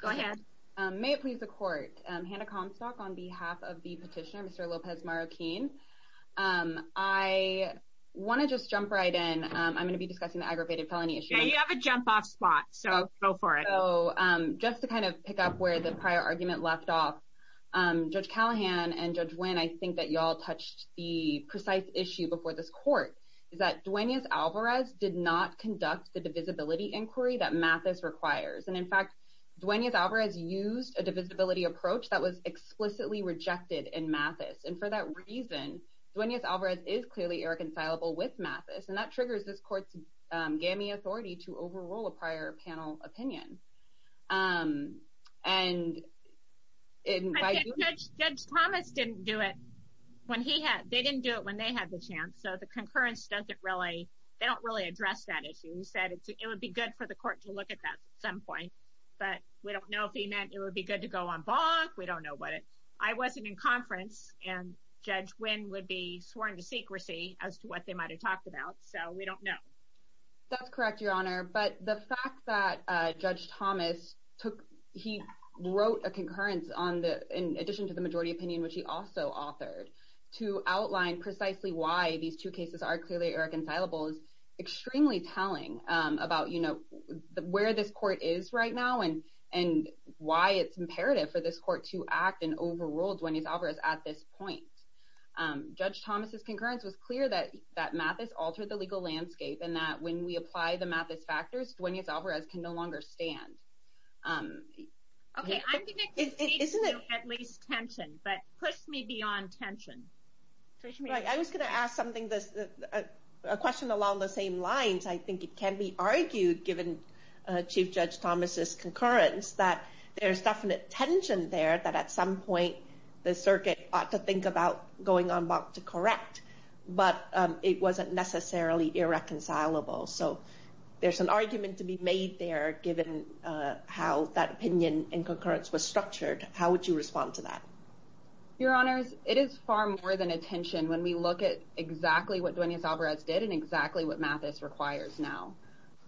Go ahead. May it please the court. Hannah Comstock on behalf of the petitioner Mr. Lopez-Marroquin. I want to just jump right in. I'm going to be discussing the aggravated felony issue. Yeah you have a jump off spot so go for it. So just to kind of pick up where the prior argument left off, Judge Callahan and Judge Wynn, I think that y'all touched the precise issue before this court is that Duenas Alvarez did not conduct the divisibility inquiry that Mathis requires and in fact Duenas Alvarez used a divisibility approach that was explicitly rejected in Mathis and for that reason Duenas Alvarez is clearly irreconcilable with Mathis and that triggers this court's gammy authority to overrule a prior panel opinion. And Judge Thomas didn't do it when he had they didn't do it when they had the chance so the concurrence doesn't really they don't really address that issue. He said it would be good for the court to look at that at some point but we don't know if he meant it would be good to go on bonk. We don't know but I wasn't in conference and Judge Wynn would be sworn to secrecy as to what they might have talked about so we don't know. That's correct your honor but the fact that Judge Thomas took he wrote a concurrence on the in addition to the majority opinion which he also authored to outline precisely why these two cases are clearly irreconcilable is extremely telling about you know where this court is right now and and why it's imperative for this court to act and overrule Duenas Alvarez at this point. Judge Thomas's concurrence was clear that that Mathis altered the legal landscape and that when we apply the Mathis factors Duenas Alvarez can no longer stand. Okay I'm going to at least tension but push me beyond tension. I was going to ask something this a question along the same lines I think it can be argued given Chief Judge Thomas's concurrence that there's definite tension there that at some point the circuit ought to think about going on bonk to correct but it wasn't necessarily irreconcilable so there's an argument to be made there given uh how that opinion and concurrence was structured how would you respond to that? Your honors it is far more than attention when we look at exactly what Duenas Alvarez did and exactly what Mathis requires now.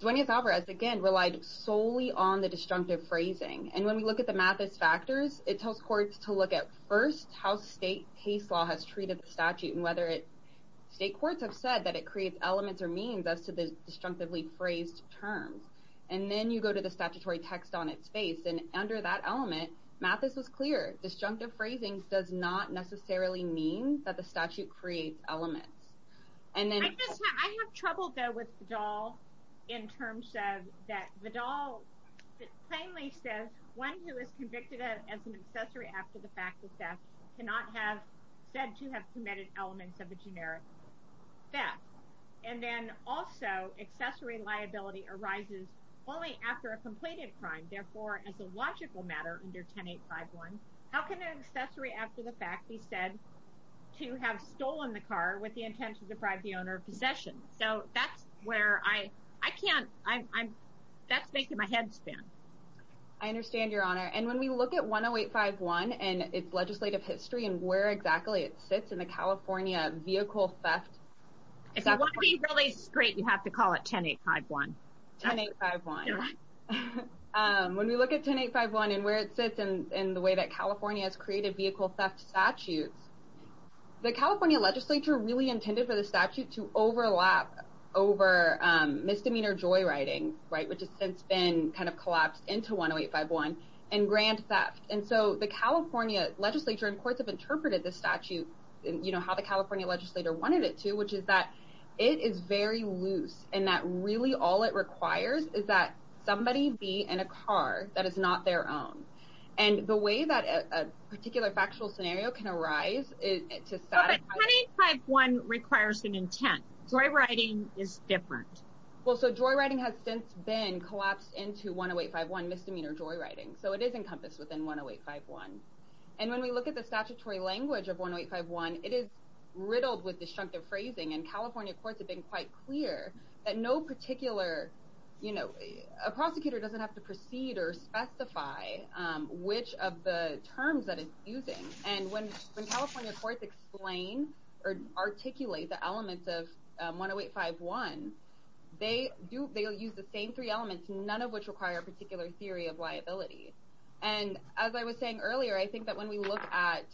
Duenas Alvarez again relied solely on the destructive phrasing and when we look at the Mathis factors it tells courts to look at first how state case law has treated the statute and state courts have said that it creates elements or means as to the destructively phrased terms and then you go to the statutory text on its face and under that element Mathis was clear destructive phrasing does not necessarily mean that the statute creates elements. I have trouble though with Vidal in terms of that Vidal plainly says one who is convicted as an accessory after the fact of theft cannot have said to have committed elements of a generic theft and then also accessory liability arises only after a completed crime therefore as a logical matter under 10-851 how can an accessory after the fact be said to have stolen the car with the intent to deprive the owner of possession so that's where I I can't I'm I'm that's making my head spin. I understand your honor and when we look at 10851 and its legislative history and where exactly it sits in the California vehicle theft. If you want to be really straight you have to call it 10-851. 10-851 when we look at 10-851 and where it sits in in the way that California has created vehicle theft statutes the California legislature really intended for the statute to kind of collapse into 10-851 and grand theft and so the California legislature and courts have interpreted this statute and you know how the California legislator wanted it to which is that it is very loose and that really all it requires is that somebody be in a car that is not their own and the way that a particular factual scenario can arise is to satisfy. 10-851 requires an intent Joy writing is different. Well so joy writing has since been collapsed into 10851 misdemeanor joy writing so it is encompassed within 10851 and when we look at the statutory language of 10851 it is riddled with destructive phrasing and California courts have been quite clear that no particular you know a prosecutor doesn't have to proceed or specify which of the terms that and when California courts explain or articulate the elements of 10851 they do they'll use the same three elements none of which require a particular theory of liability and as I was saying earlier I think that when we look at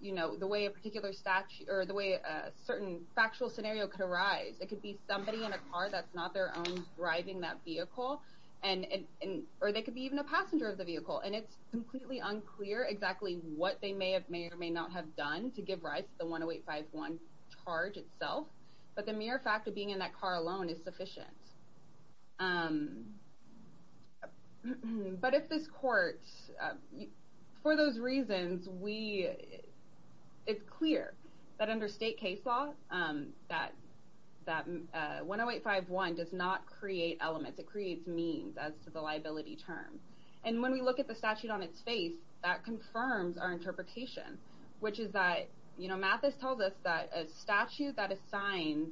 you know the way a particular statute or the way a certain factual scenario could arise it could be somebody in a car that's not their own driving that vehicle and or they could be even a passenger of the vehicle and it's completely unclear exactly what they may have may or may not have done to give rise to the 10851 charge itself but the mere fact of being in that car alone is sufficient um but if this court for those reasons we it's clear that under state case law um that that uh 10851 does not create elements it creates means as to the liability term and when we look at the our interpretation which is that you know Mathis tells us that a statute that assigns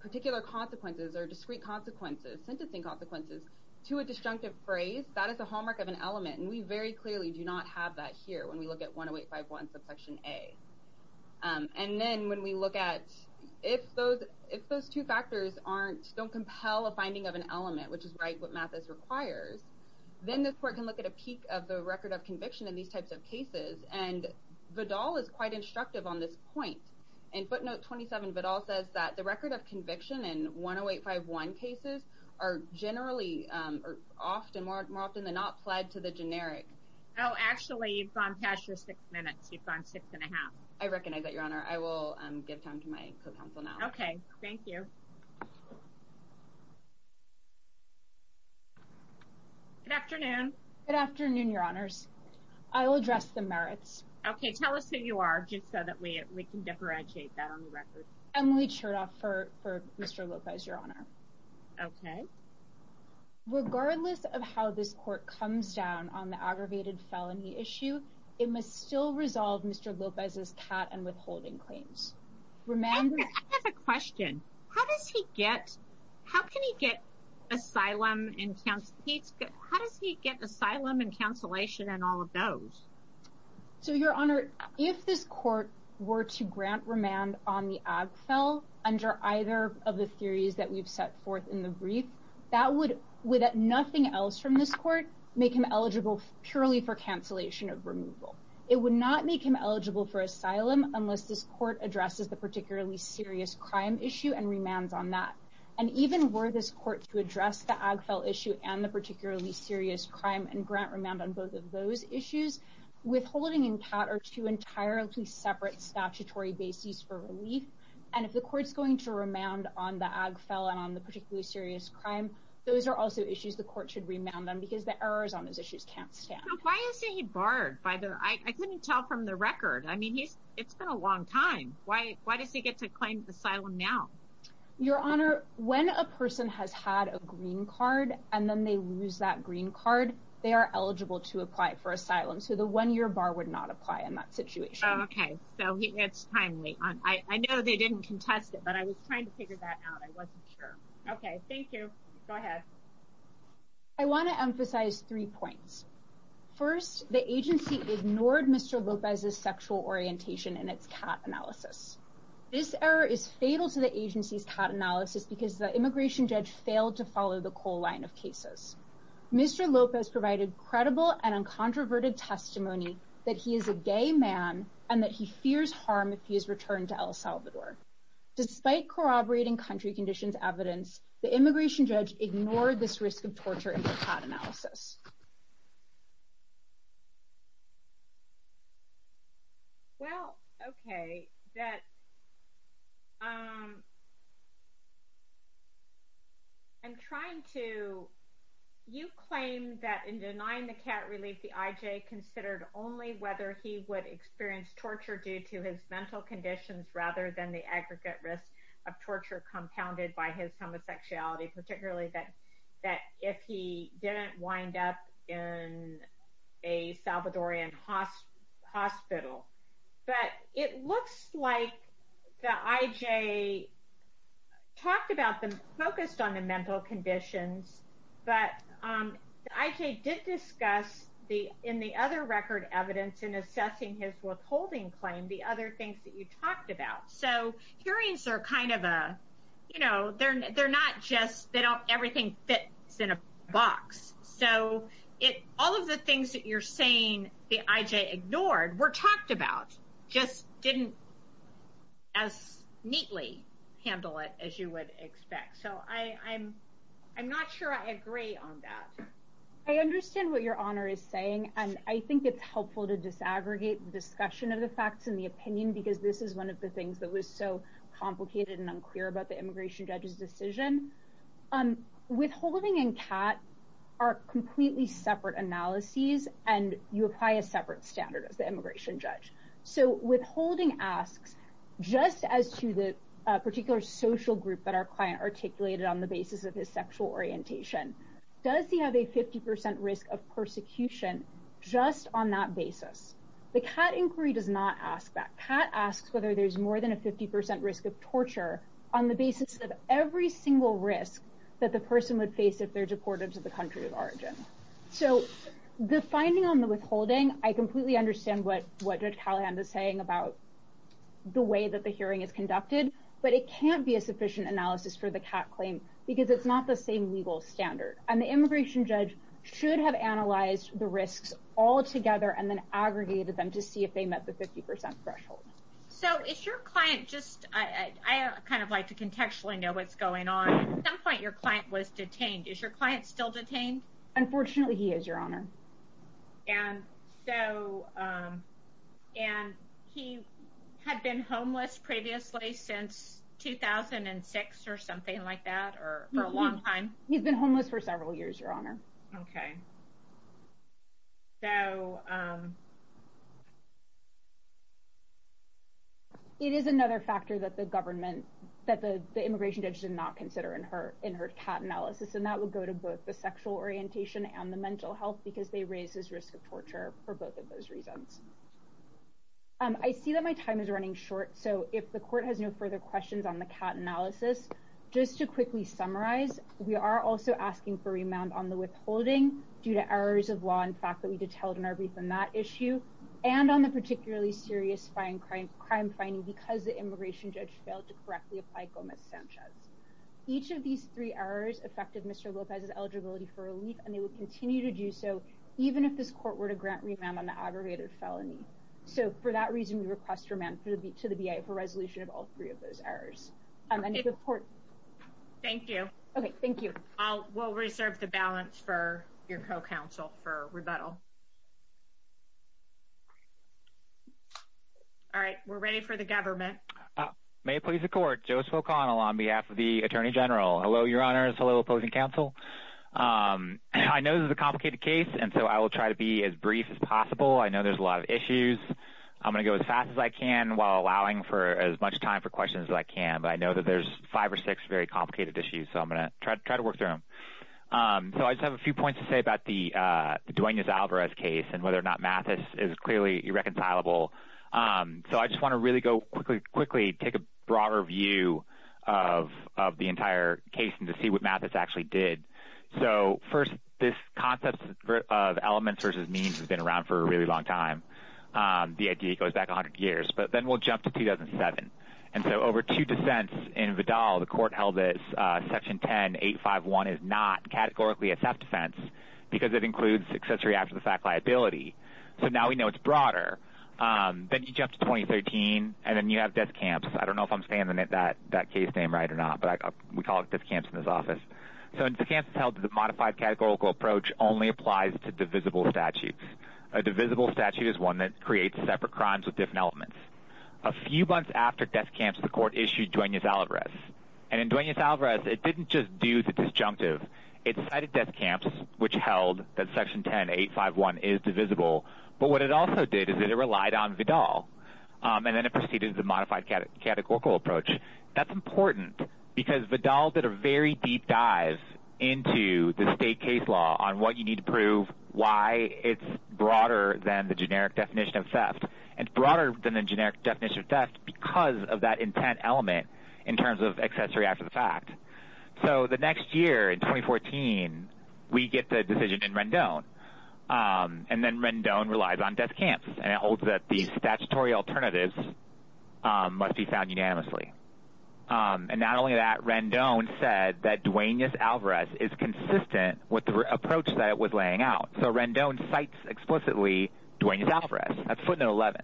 particular consequences or discrete consequences sentencing consequences to a destructive phrase that is a hallmark of an element and we very clearly do not have that here when we look at 10851 subsection a and then when we look at if those if those two factors aren't don't compel a finding of an element which is right what Mathis requires then this court can look at a peak of the and Vidal is quite instructive on this point and footnote 27 but all says that the record of conviction in 10851 cases are generally um are often more often than not pled to the generic oh actually you've gone past your six minutes you've gone six and a half i recognize that your honor i will um give time to my co-counsel now okay thank you good afternoon good afternoon your honors i will address the merits okay tell us who you are just so that we we can differentiate that on the record Emily Chertoff for for Mr. Lopez your honor okay regardless of how this court comes down on the aggravated felony issue it must still resolve Mr. how can he get asylum in counts how does he get asylum and cancellation and all of those so your honor if this court were to grant remand on the ag fell under either of the theories that we've set forth in the brief that would with nothing else from this court make him eligible purely for cancellation of removal it would not make him eligible for asylum unless this court addresses the particularly serious crime issue and remands on that and even were this court to address the ag fell issue and the particularly serious crime and grant remand on both of those issues withholding and pat are two entirely separate statutory bases for relief and if the court's going to remand on the ag fell and on the particularly serious crime those are also issues the court should remand them because the errors on those issues can't stand why is he barred by the I couldn't tell from the record I mean he's it's been a long time why why does he get to claim asylum now your honor when a person has had a green card and then they lose that green card they are eligible to apply for asylum so the one-year bar would not apply in that situation okay so it's timely I know they didn't contest it but I was trying to figure that out I wasn't sure okay thank you go ahead I want to emphasize three points first the agency ignored Mr. Lopez's sexual orientation in its cat analysis this error is fatal to the agency's cat analysis because the immigration judge failed to follow the coal line of cases Mr. Lopez provided credible and uncontroverted testimony that he is a gay man and that he fears harm if he is returned to El Salvador despite corroborating country conditions evidence the immigration judge ignored this risk of torture in the cat analysis well okay that um I'm trying to you claim that in denying the cat relief the IJ considered only whether he would experience torture due to his mental conditions rather than the aggregate risk of torture compounded by his homosexuality particularly that that if he didn't wind up in a Salvadorian hospital but it looks like the IJ talked about them focused on the mental conditions but um the IJ did discuss the in the other record evidence in assessing his withholding claim the other things that you talked about so hearings are kind of a you know they're they're not just they don't everything fits in a box so it all of the things that you're saying the IJ ignored were didn't as neatly handle it as you would expect so I I'm I'm not sure I agree on that I understand what your honor is saying and I think it's helpful to disaggregate the discussion of the facts and the opinion because this is one of the things that was so complicated and unclear about the immigration judge's decision um withholding and cat are completely separate analyses and you apply a separate standard as the immigration judge so withholding asks just as to the particular social group that our client articulated on the basis of his sexual orientation does he have a 50 percent risk of persecution just on that basis the cat inquiry does not ask that cat asks whether there's more than a 50 percent risk of torture on the basis of every single risk that the person would withholding I completely understand what what judge Callahan is saying about the way that the hearing is conducted but it can't be a sufficient analysis for the cat claim because it's not the same legal standard and the immigration judge should have analyzed the risks all together and then aggregated them to see if they met the 50 threshold so it's your client just I I kind of like to contextually know what's going on at some point your client was detained is your client still detained unfortunately he is your honor and so um and he had been homeless previously since 2006 or something like that or for a long time he's been homeless for several years your honor okay so um it is another factor that the government that the immigration judge did not consider in her cat analysis and that would go to both the sexual orientation and the mental health because they raise his risk of torture for both of those reasons um I see that my time is running short so if the court has no further questions on the cat analysis just to quickly summarize we are also asking for remand on the withholding due to errors of law in fact that we detailed in our brief on that issue and on the particularly serious fine crime crime finding because the immigration judge failed to correctly apply gomez sanchez each of these three errors affected mr lopez's eligibility for relief and they will continue to do so even if this court were to grant remand on the aggravated felony so for that reason we request remand to the bia for resolution of all three of those errors um and report thank you okay thank you i'll we'll reserve the balance for your co-counsel for joseph o'connell on behalf of the attorney general hello your honors hello opposing counsel um i know this is a complicated case and so i will try to be as brief as possible i know there's a lot of issues i'm going to go as fast as i can while allowing for as much time for questions as i can but i know that there's five or six very complicated issues so i'm going to try to try to work through them um so i just have a few points to say about the uh duenas alvarez case and whether or not mathis is clearly irreconcilable um so i just want to really go quickly quickly take a broader view of of the entire case and to see what mathis actually did so first this concept of elements versus means has been around for a really long time um the idea goes back 100 years but then we'll jump to 2007 and so over two dissents in vidal the court held this uh section 10 851 is not categorically a theft offense because it includes accessory after-the-fact so now we know it's broader um then you jump to 2013 and then you have death camps i don't know if i'm saying that that that case name right or not but we call it death camps in this office so in the camps held the modified categorical approach only applies to divisible statutes a divisible statute is one that creates separate crimes with different elements a few months after death camps the court issued duenas alvarez and in duenas alvarez it didn't just do the disjunctive it cited death camps which held that section 10 851 is divisible but what it also did is that it relied on vidal um and then it proceeded the modified categorical approach that's important because vidal did a very deep dive into the state case law on what you need to prove why it's broader than the generic definition of theft and broader than the generic definition of theft because of that intent element in terms of accessory after the act so the next year in 2014 we get the decision in rendon and then rendon relies on death camps and it holds that these statutory alternatives must be found unanimously and not only that rendon said that duenas alvarez is consistent with the approach that it was laying out so rendon cites explicitly duenas alvarez that's footnote 11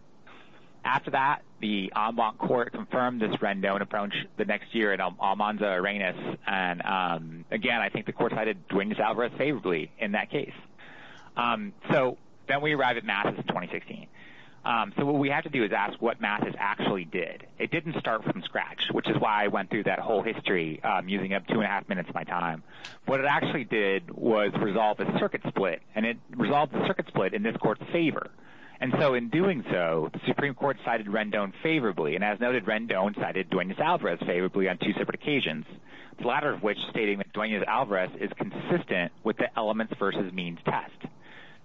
after that the ambon court confirmed this rendon approach the next year at almanza arenas and um again i think the court cited duenas alvarez favorably in that case um so then we arrive at masses 2016 um so what we have to do is ask what masses actually did it didn't start from scratch which is why i went through that whole history um using up two and a half minutes of my time what it actually did was resolve a circuit split and it resolved the circuit split in this court's favor and so in doing so the supreme court cited rendon favorably and as noted rendon cited duenas alvarez favorably on two separate occasions the latter of which stating that duenas alvarez is consistent with the elements versus means test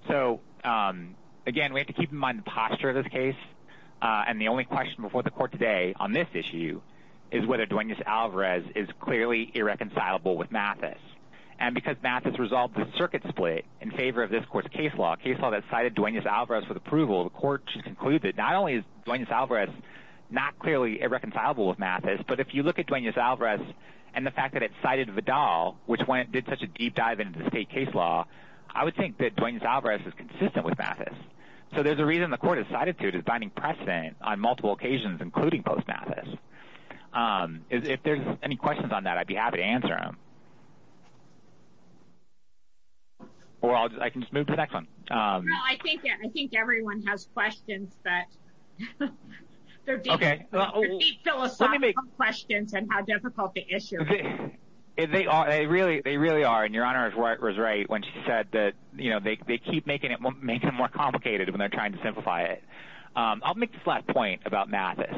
so um again we have to keep in mind the posture of this case uh and the only question before the court today on this issue is whether duenas alvarez is clearly irreconcilable with mathis and because math has resolved the circuit split in favor of this court's case law case law that with approval the court should conclude that not only is duenas alvarez not clearly irreconcilable with mathis but if you look at duenas alvarez and the fact that it cited vidal which went did such a deep dive into the state case law i would think that duenas alvarez is consistent with mathis so there's a reason the court has cited to defining precedent on multiple occasions including post mathis um if there's any questions on that i'd be happy to answer them or i can just move to the next one um no i think i think everyone has questions that they're deep philosophical questions and how difficult the issue is they are they really they really are and your honor was right when she said that you know they keep making it making it more complicated when they're trying to simplify it um i'll make this last point about mathis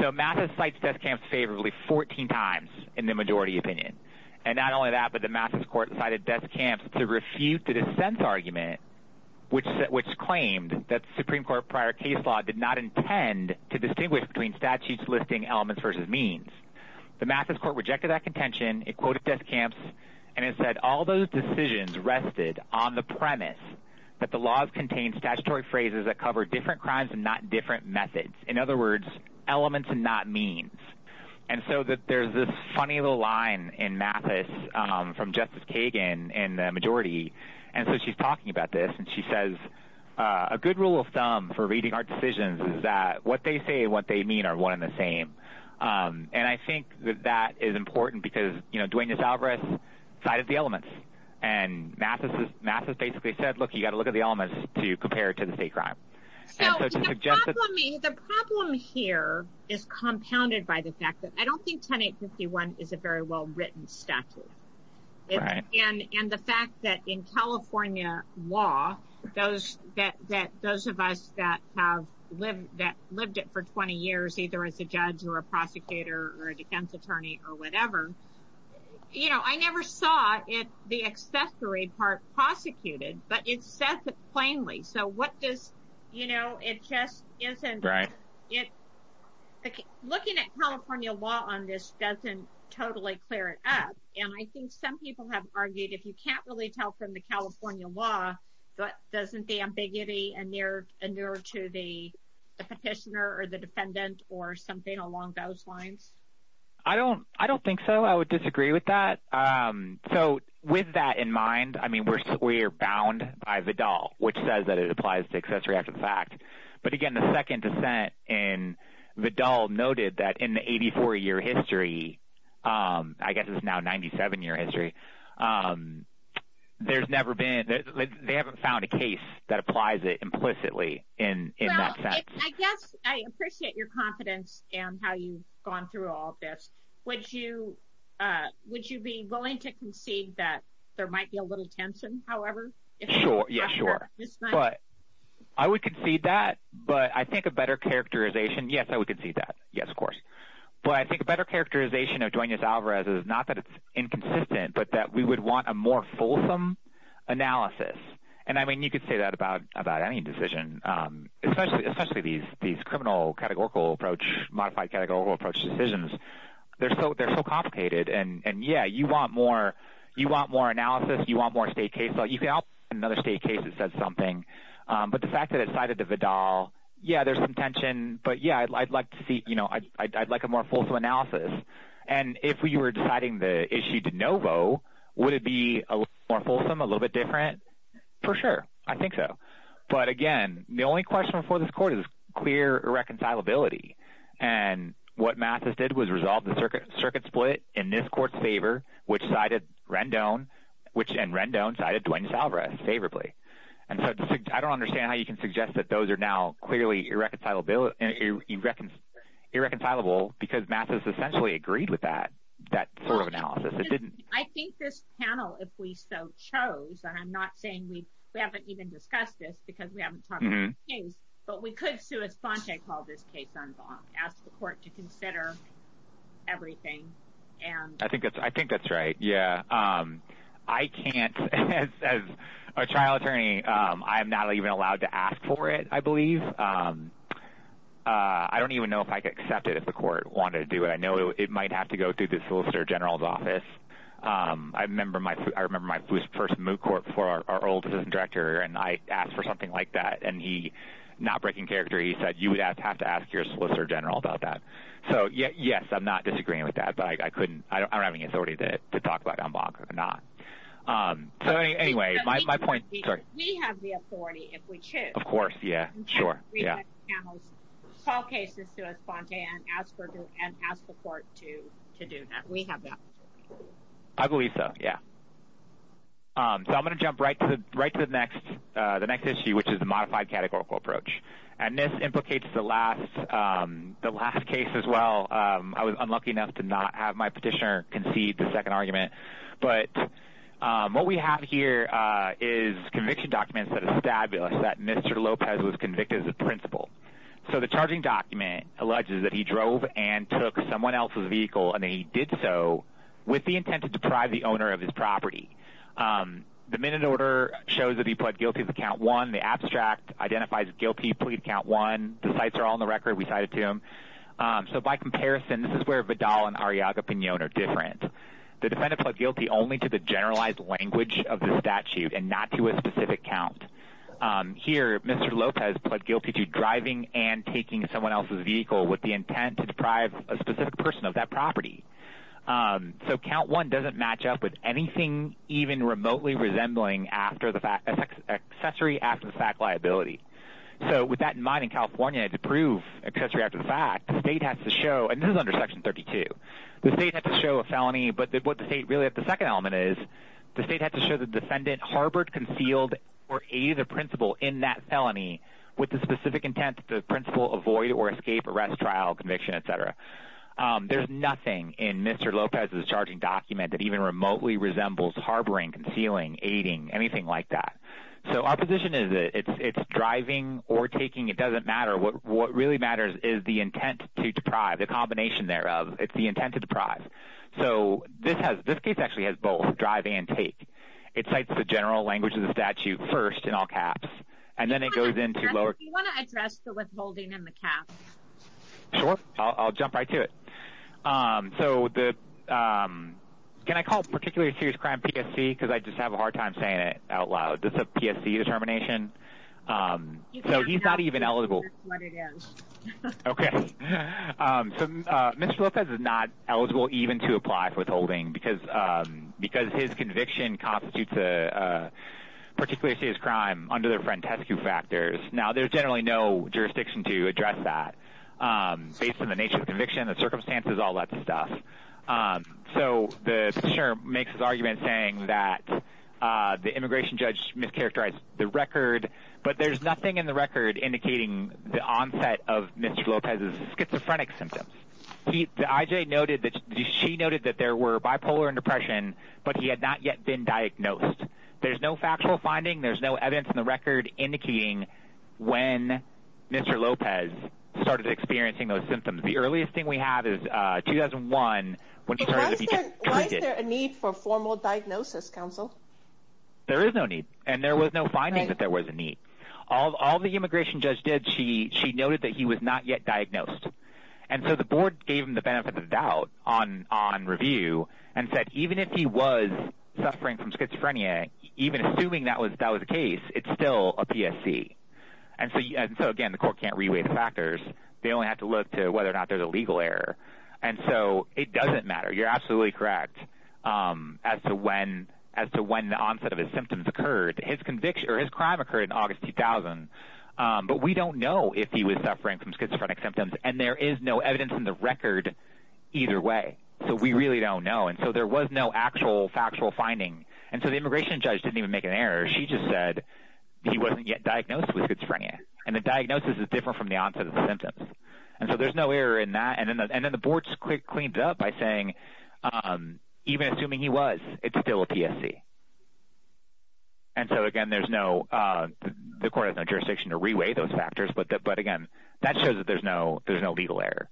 so mathis cites test camps favorably 14 times in the majority opinion and not only that the mathis court cited death camps to refute the dissent argument which which claimed that supreme court prior case law did not intend to distinguish between statutes listing elements versus means the mathis court rejected that contention it quoted death camps and it said all those decisions rested on the premise that the laws contain statutory phrases that cover different crimes and not different methods in other words elements and not means and so that there's this funny little line in mathis um from justice kagan in the majority and so she's talking about this and she says a good rule of thumb for reading our decisions is that what they say what they mean are one and the same um and i think that that is important because you know duenas alvarez cited the elements and mathis mathis basically said look you got to look at the elements to compare to the state crime so the problem here is compounded by the fact that i don't think 108 51 is a very well written statute and and the fact that in california law those that that those of us that have lived that lived it for 20 years either as a judge or a prosecutor or a defense attorney or whatever you know i never saw it the accessory part prosecuted but it's set plainly so what does you know it just isn't right looking at california law on this doesn't totally clear it up and i think some people have argued if you can't really tell from the california law but doesn't the ambiguity and near and near to the petitioner or the defendant or something along those lines i don't i don't think so i would disagree with that um so with that in mind i says that it applies to accessory after the fact but again the second dissent and the doll noted that in the 84 year history um i guess it's now 97 year history um there's never been they haven't found a case that applies it implicitly in in that sense i guess i appreciate your confidence and how you've gone through all this would you uh would you be willing to concede that there might be a but i would concede that but i think a better characterization yes i would concede that yes of course but i think a better characterization of duenas alvarez is not that it's inconsistent but that we would want a more fulsome analysis and i mean you could say that about about any decision um especially especially these these criminal categorical approach modified categorical approach decisions they're so they're so complicated and and yeah you want more you want more analysis you want more state case so you can help another state case that says something um but the fact that it cited the vidal yeah there's some tension but yeah i'd like to see you know i'd like a more fulsome analysis and if we were deciding the issue de novo would it be a more fulsome a little bit different for sure i think so but again the only question for this court is clear irreconcilability and what mattis did was resolve the circuit circuit split in this court's favor which cited rendon which and rendon cited duenas alvarez favorably and so i don't understand how you can suggest that those are now clearly irreconcilable and you reckon irreconcilable because mattis essentially agreed with that that sort of analysis it didn't i think this panel if we so chose and i'm not saying we we haven't even discussed this because we haven't talked about things but we could sue as ponte called this case on bonk ask the court to consider everything and i think that's i can't as a trial attorney um i'm not even allowed to ask for it i believe um uh i don't even know if i could accept it if the court wanted to do it i know it might have to go through the solicitor general's office um i remember my i remember my first moot court for our old assistant director and i asked for something like that and he not breaking character he said you would have to ask your solicitor general about that so yes i'm not disagreeing with that but i couldn't i don't um so anyway my point sorry we have the authority if we choose of course yeah sure yeah call cases to us ponte and ask for and ask the court to to do that we have that i believe so yeah um so i'm going to jump right to the right to the next uh the next issue which is a modified categorical approach and this implicates the last um the last case as well um i was unlucky enough to not have my petitioner concede the second argument but um what we have here uh is conviction documents that establish that mr lopez was convicted as a principal so the charging document alleges that he drove and took someone else's vehicle and he did so with the intent to deprive the owner of his property um the minute order shows that he pled guilty to count one the abstract identifies guilty plead count one the sites are all on the record we cited to him um so by comparison this is where vidal and ariaga pinon are different the defendant pled guilty only to the generalized language of the statute and not to a specific count um here mr lopez pled guilty to driving and taking someone else's vehicle with the intent to deprive a specific person of that property um so count one doesn't match up with anything even remotely resembling after the fact accessory after the fact liability so with that in mind in california to prove accessory after the fact the state has to show and this is under section 32 the state has to show a felony but what the state really at the second element is the state has to show the defendant harbored concealed or aid the principal in that felony with the specific intent the principal avoid or escape arrest trial conviction etc um there's nothing in mr lopez's charging document that even remotely resembles harboring concealing aiding anything like that so our is it it's it's driving or taking it doesn't matter what what really matters is the intent to deprive the combination thereof it's the intent to deprive so this has this case actually has both drive and take it cites the general language of the statute first in all caps and then it goes into lower you want to address the withholding in the cap sure i'll jump right to it um so the um can i call particularly serious crime psc because i have a hard time saying it out loud this is a psc determination um so he's not even eligible okay um so mr lopez is not eligible even to apply for withholding because um because his conviction constitutes a particularly serious crime under the frantescu factors now there's generally no jurisdiction to address that um based on the nature of conviction the circumstances all um so the chair makes his argument saying that uh the immigration judge mischaracterized the record but there's nothing in the record indicating the onset of mr lopez's schizophrenic symptoms the ij noted that she noted that there were bipolar and depression but he had not yet been diagnosed there's no factual finding there's no evidence in the record indicating when mr lopez started experiencing those symptoms the earliest thing we have is uh 2001 why is there a need for formal diagnosis counsel there is no need and there was no finding that there was a need all all the immigration judge did she she noted that he was not yet diagnosed and so the board gave him the benefit of the doubt on on review and said even if he was suffering from schizophrenia even assuming that was that was the case it's still a psc and so and so again the court can't reweight the factors they only have to look to whether or not there's a legal error and so it doesn't matter you're absolutely correct um as to when as to when the onset of his symptoms occurred his conviction or his crime occurred in august 2000 um but we don't know if he was suffering from schizophrenic symptoms and there is no evidence in the record either way so we really don't know and so there was no actual factual finding and so the immigration judge didn't even make an error she just said he wasn't yet diagnosed with schizophrenia and the diagnosis is different from the onset of the symptoms and so there's no error in that and then and then the board's quick cleaned up by saying um even assuming he was it's still a psc and so again there's no uh the court has no jurisdiction to reweigh those factors but but again that shows that there's no there's no legal error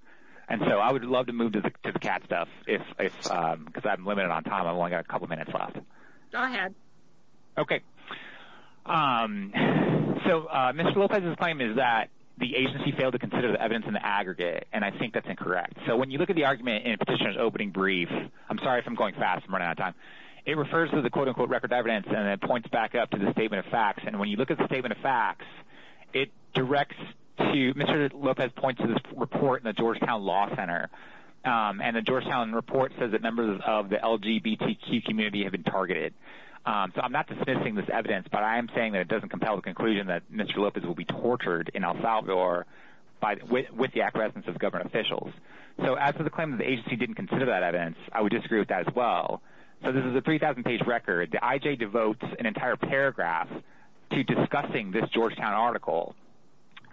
and so i would love to move to the cat stuff if it's um because i'm limited on time i've only got a couple minutes left go ahead okay um so uh mr lopez's claim is that the agency failed to consider the evidence in the aggregate and i think that's incorrect so when you look at the argument in petitioner's opening brief i'm sorry if i'm going fast i'm running out of time it refers to the quote-unquote record evidence and it points back up to the statement of facts and when you look at the statement of facts it directs to mr lopez points to this report in the georgetown law center um and the georgetown report says that members of the lgbtq community have been targeted um so i'm not dismissing this evidence but i am saying that it doesn't compel the conclusion that mr lopez will be tortured in el salvador by with the acquiescence of government officials so as for the claim that the agency didn't consider that evidence i would disagree with that as well so this is a 3000 page record the ij devotes an entire paragraph to discussing this georgetown article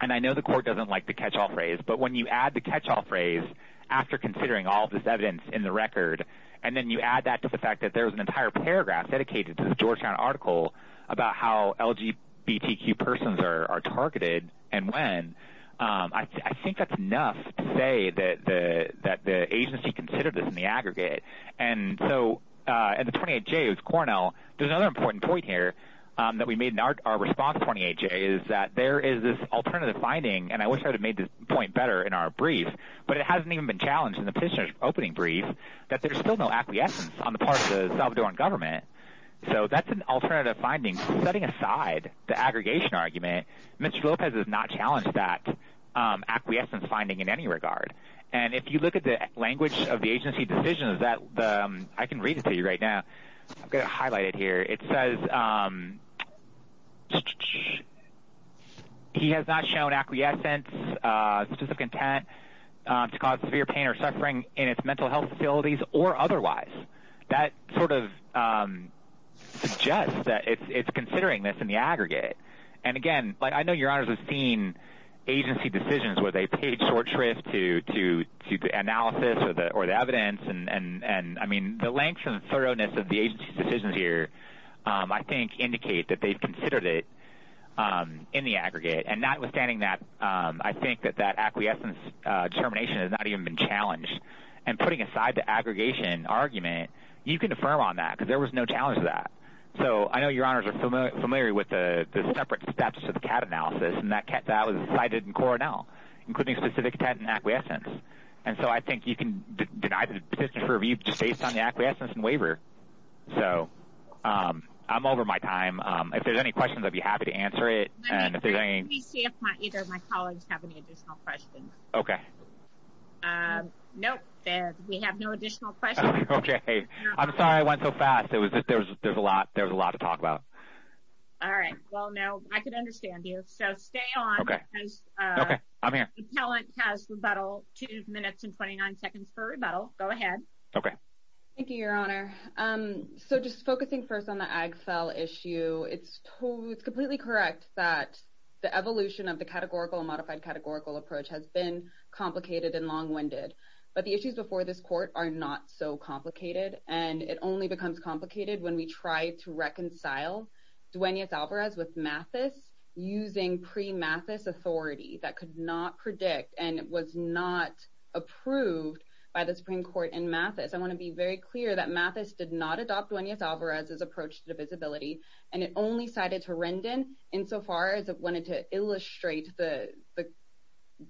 and i know the court doesn't like the catch-all phrase but when you add the catch-all phrase after considering all this evidence in the record and then you add that to the fact that there was an entire paragraph dedicated to the georgetown article about how lgbtq persons are targeted and when um i think that's enough to say that the that the agency considered this in the aggregate and so uh and the 28 j is cornell there's another important point here um that we made in our response 28 j is that there is this alternative finding and i wish i would have made this point better in our brief but it hasn't even been challenged in the petitioner's opening brief that there's still no on the part of the salvadoran government so that's an alternative finding setting aside the aggregation argument mr lopez has not challenged that um acquiescence finding in any regard and if you look at the language of the agency decision is that the i can read it to you right now i'm gonna highlight it here it says um he has not shown acquiescence uh of content to cause severe pain or suffering in its mental health facilities or otherwise that sort of um suggests that it's it's considering this in the aggregate and again like i know your honors have seen agency decisions where they paid short shrift to to to the analysis or the or the evidence and and and i mean the length and thoroughness of the agency's decisions here um i think indicate that they've considered it um in the aggregate and notwithstanding that um i think that that acquiescence uh determination has not even been challenged and putting aside the aggregation argument you can affirm on that because there was no challenge to that so i know your honors are familiar familiar with the the separate steps to the cat analysis and that cat that was decided in cornell including specific intent and acquiescence and so i think you can deny the petition for if there's any questions i'd be happy to answer it and if there's any either of my colleagues have any additional questions okay um nope there we have no additional questions okay i'm sorry i went so fast it was just there was there's a lot there was a lot to talk about all right well now i could understand you so stay on okay okay i'm here talent has rebuttal two minutes and 29 seconds for rebuttal go ahead okay thank you your honor um so just focusing first on the ag cell issue it's totally it's completely correct that the evolution of the categorical and modified categorical approach has been complicated and long-winded but the issues before this court are not so complicated and it only becomes complicated when we try to reconcile dueñas alvarez with mathis using pre-mathis authority that could not predict and was not approved by the supreme court in mathis i want to be very clear that mathis did not adopt dueñas alvarez's approach to divisibility and it only cited to rendon insofar as it wanted to illustrate the the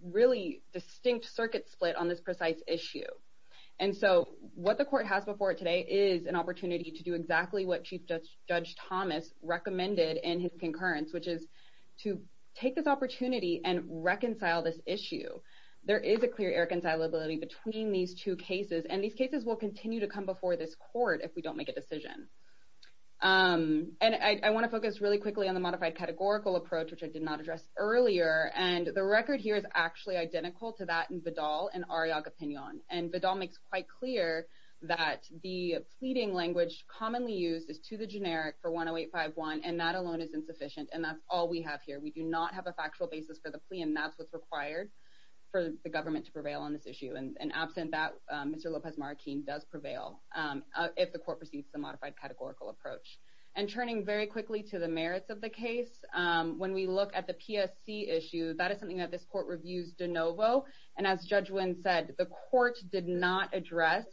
really distinct circuit split on this precise issue and so what the court has before today is an opportunity to do exactly what chief judge judge thomas recommended in his concurrence which is to take this opportunity and reconcile this issue there is a clear irreconcilability between these two cases and these cases will continue to come before this court if we don't make a decision um and i want to focus really quickly on the modified categorical approach which i did not address earlier and the record here is actually identical to that in vedal and ariag opinion and vedal makes quite clear that the pleading language commonly used is to the generic for 108 51 and that alone is insufficient and that's all we have here we do not have a factual basis for the plea and that's what's required for the if the court proceeds the modified categorical approach and turning very quickly to the merits of the case um when we look at the psc issue that is something that this court reviews de novo and as judge win said the court did not address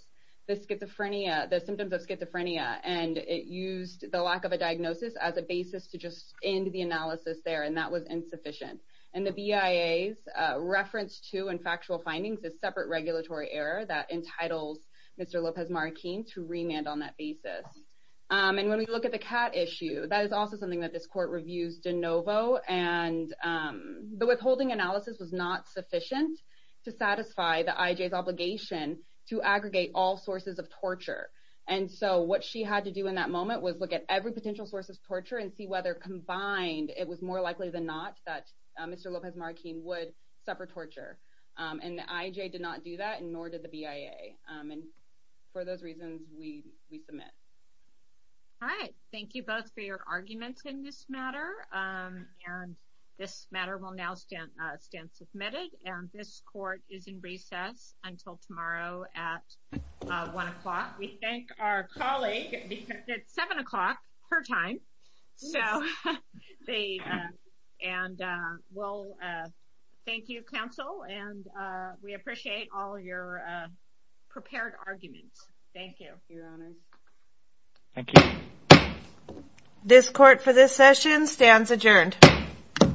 the schizophrenia the symptoms of schizophrenia and it used the lack of a diagnosis as a basis to just end the analysis there and that was insufficient and the bia's uh reference to and factual findings is separate regulatory error that entitles mr lopez marquine to remand on that basis um and when we look at the cat issue that is also something that this court reviews de novo and um the withholding analysis was not sufficient to satisfy the ij's obligation to aggregate all sources of torture and so what she had to do in that moment was look at every potential source of torture and see whether combined it was more likely than not that mr lopez marquine would suffer torture um and ij did not do that and the bia um and for those reasons we we submit all right thank you both for your arguments in this matter um and this matter will now stand uh stand submitted and this court is in recess until tomorrow at uh one o'clock we thank our colleague because it's seven o'clock her time so they uh and uh well uh thank you counsel and uh we appreciate all your uh prepared arguments thank you your honor thank you this court for this session stands adjourned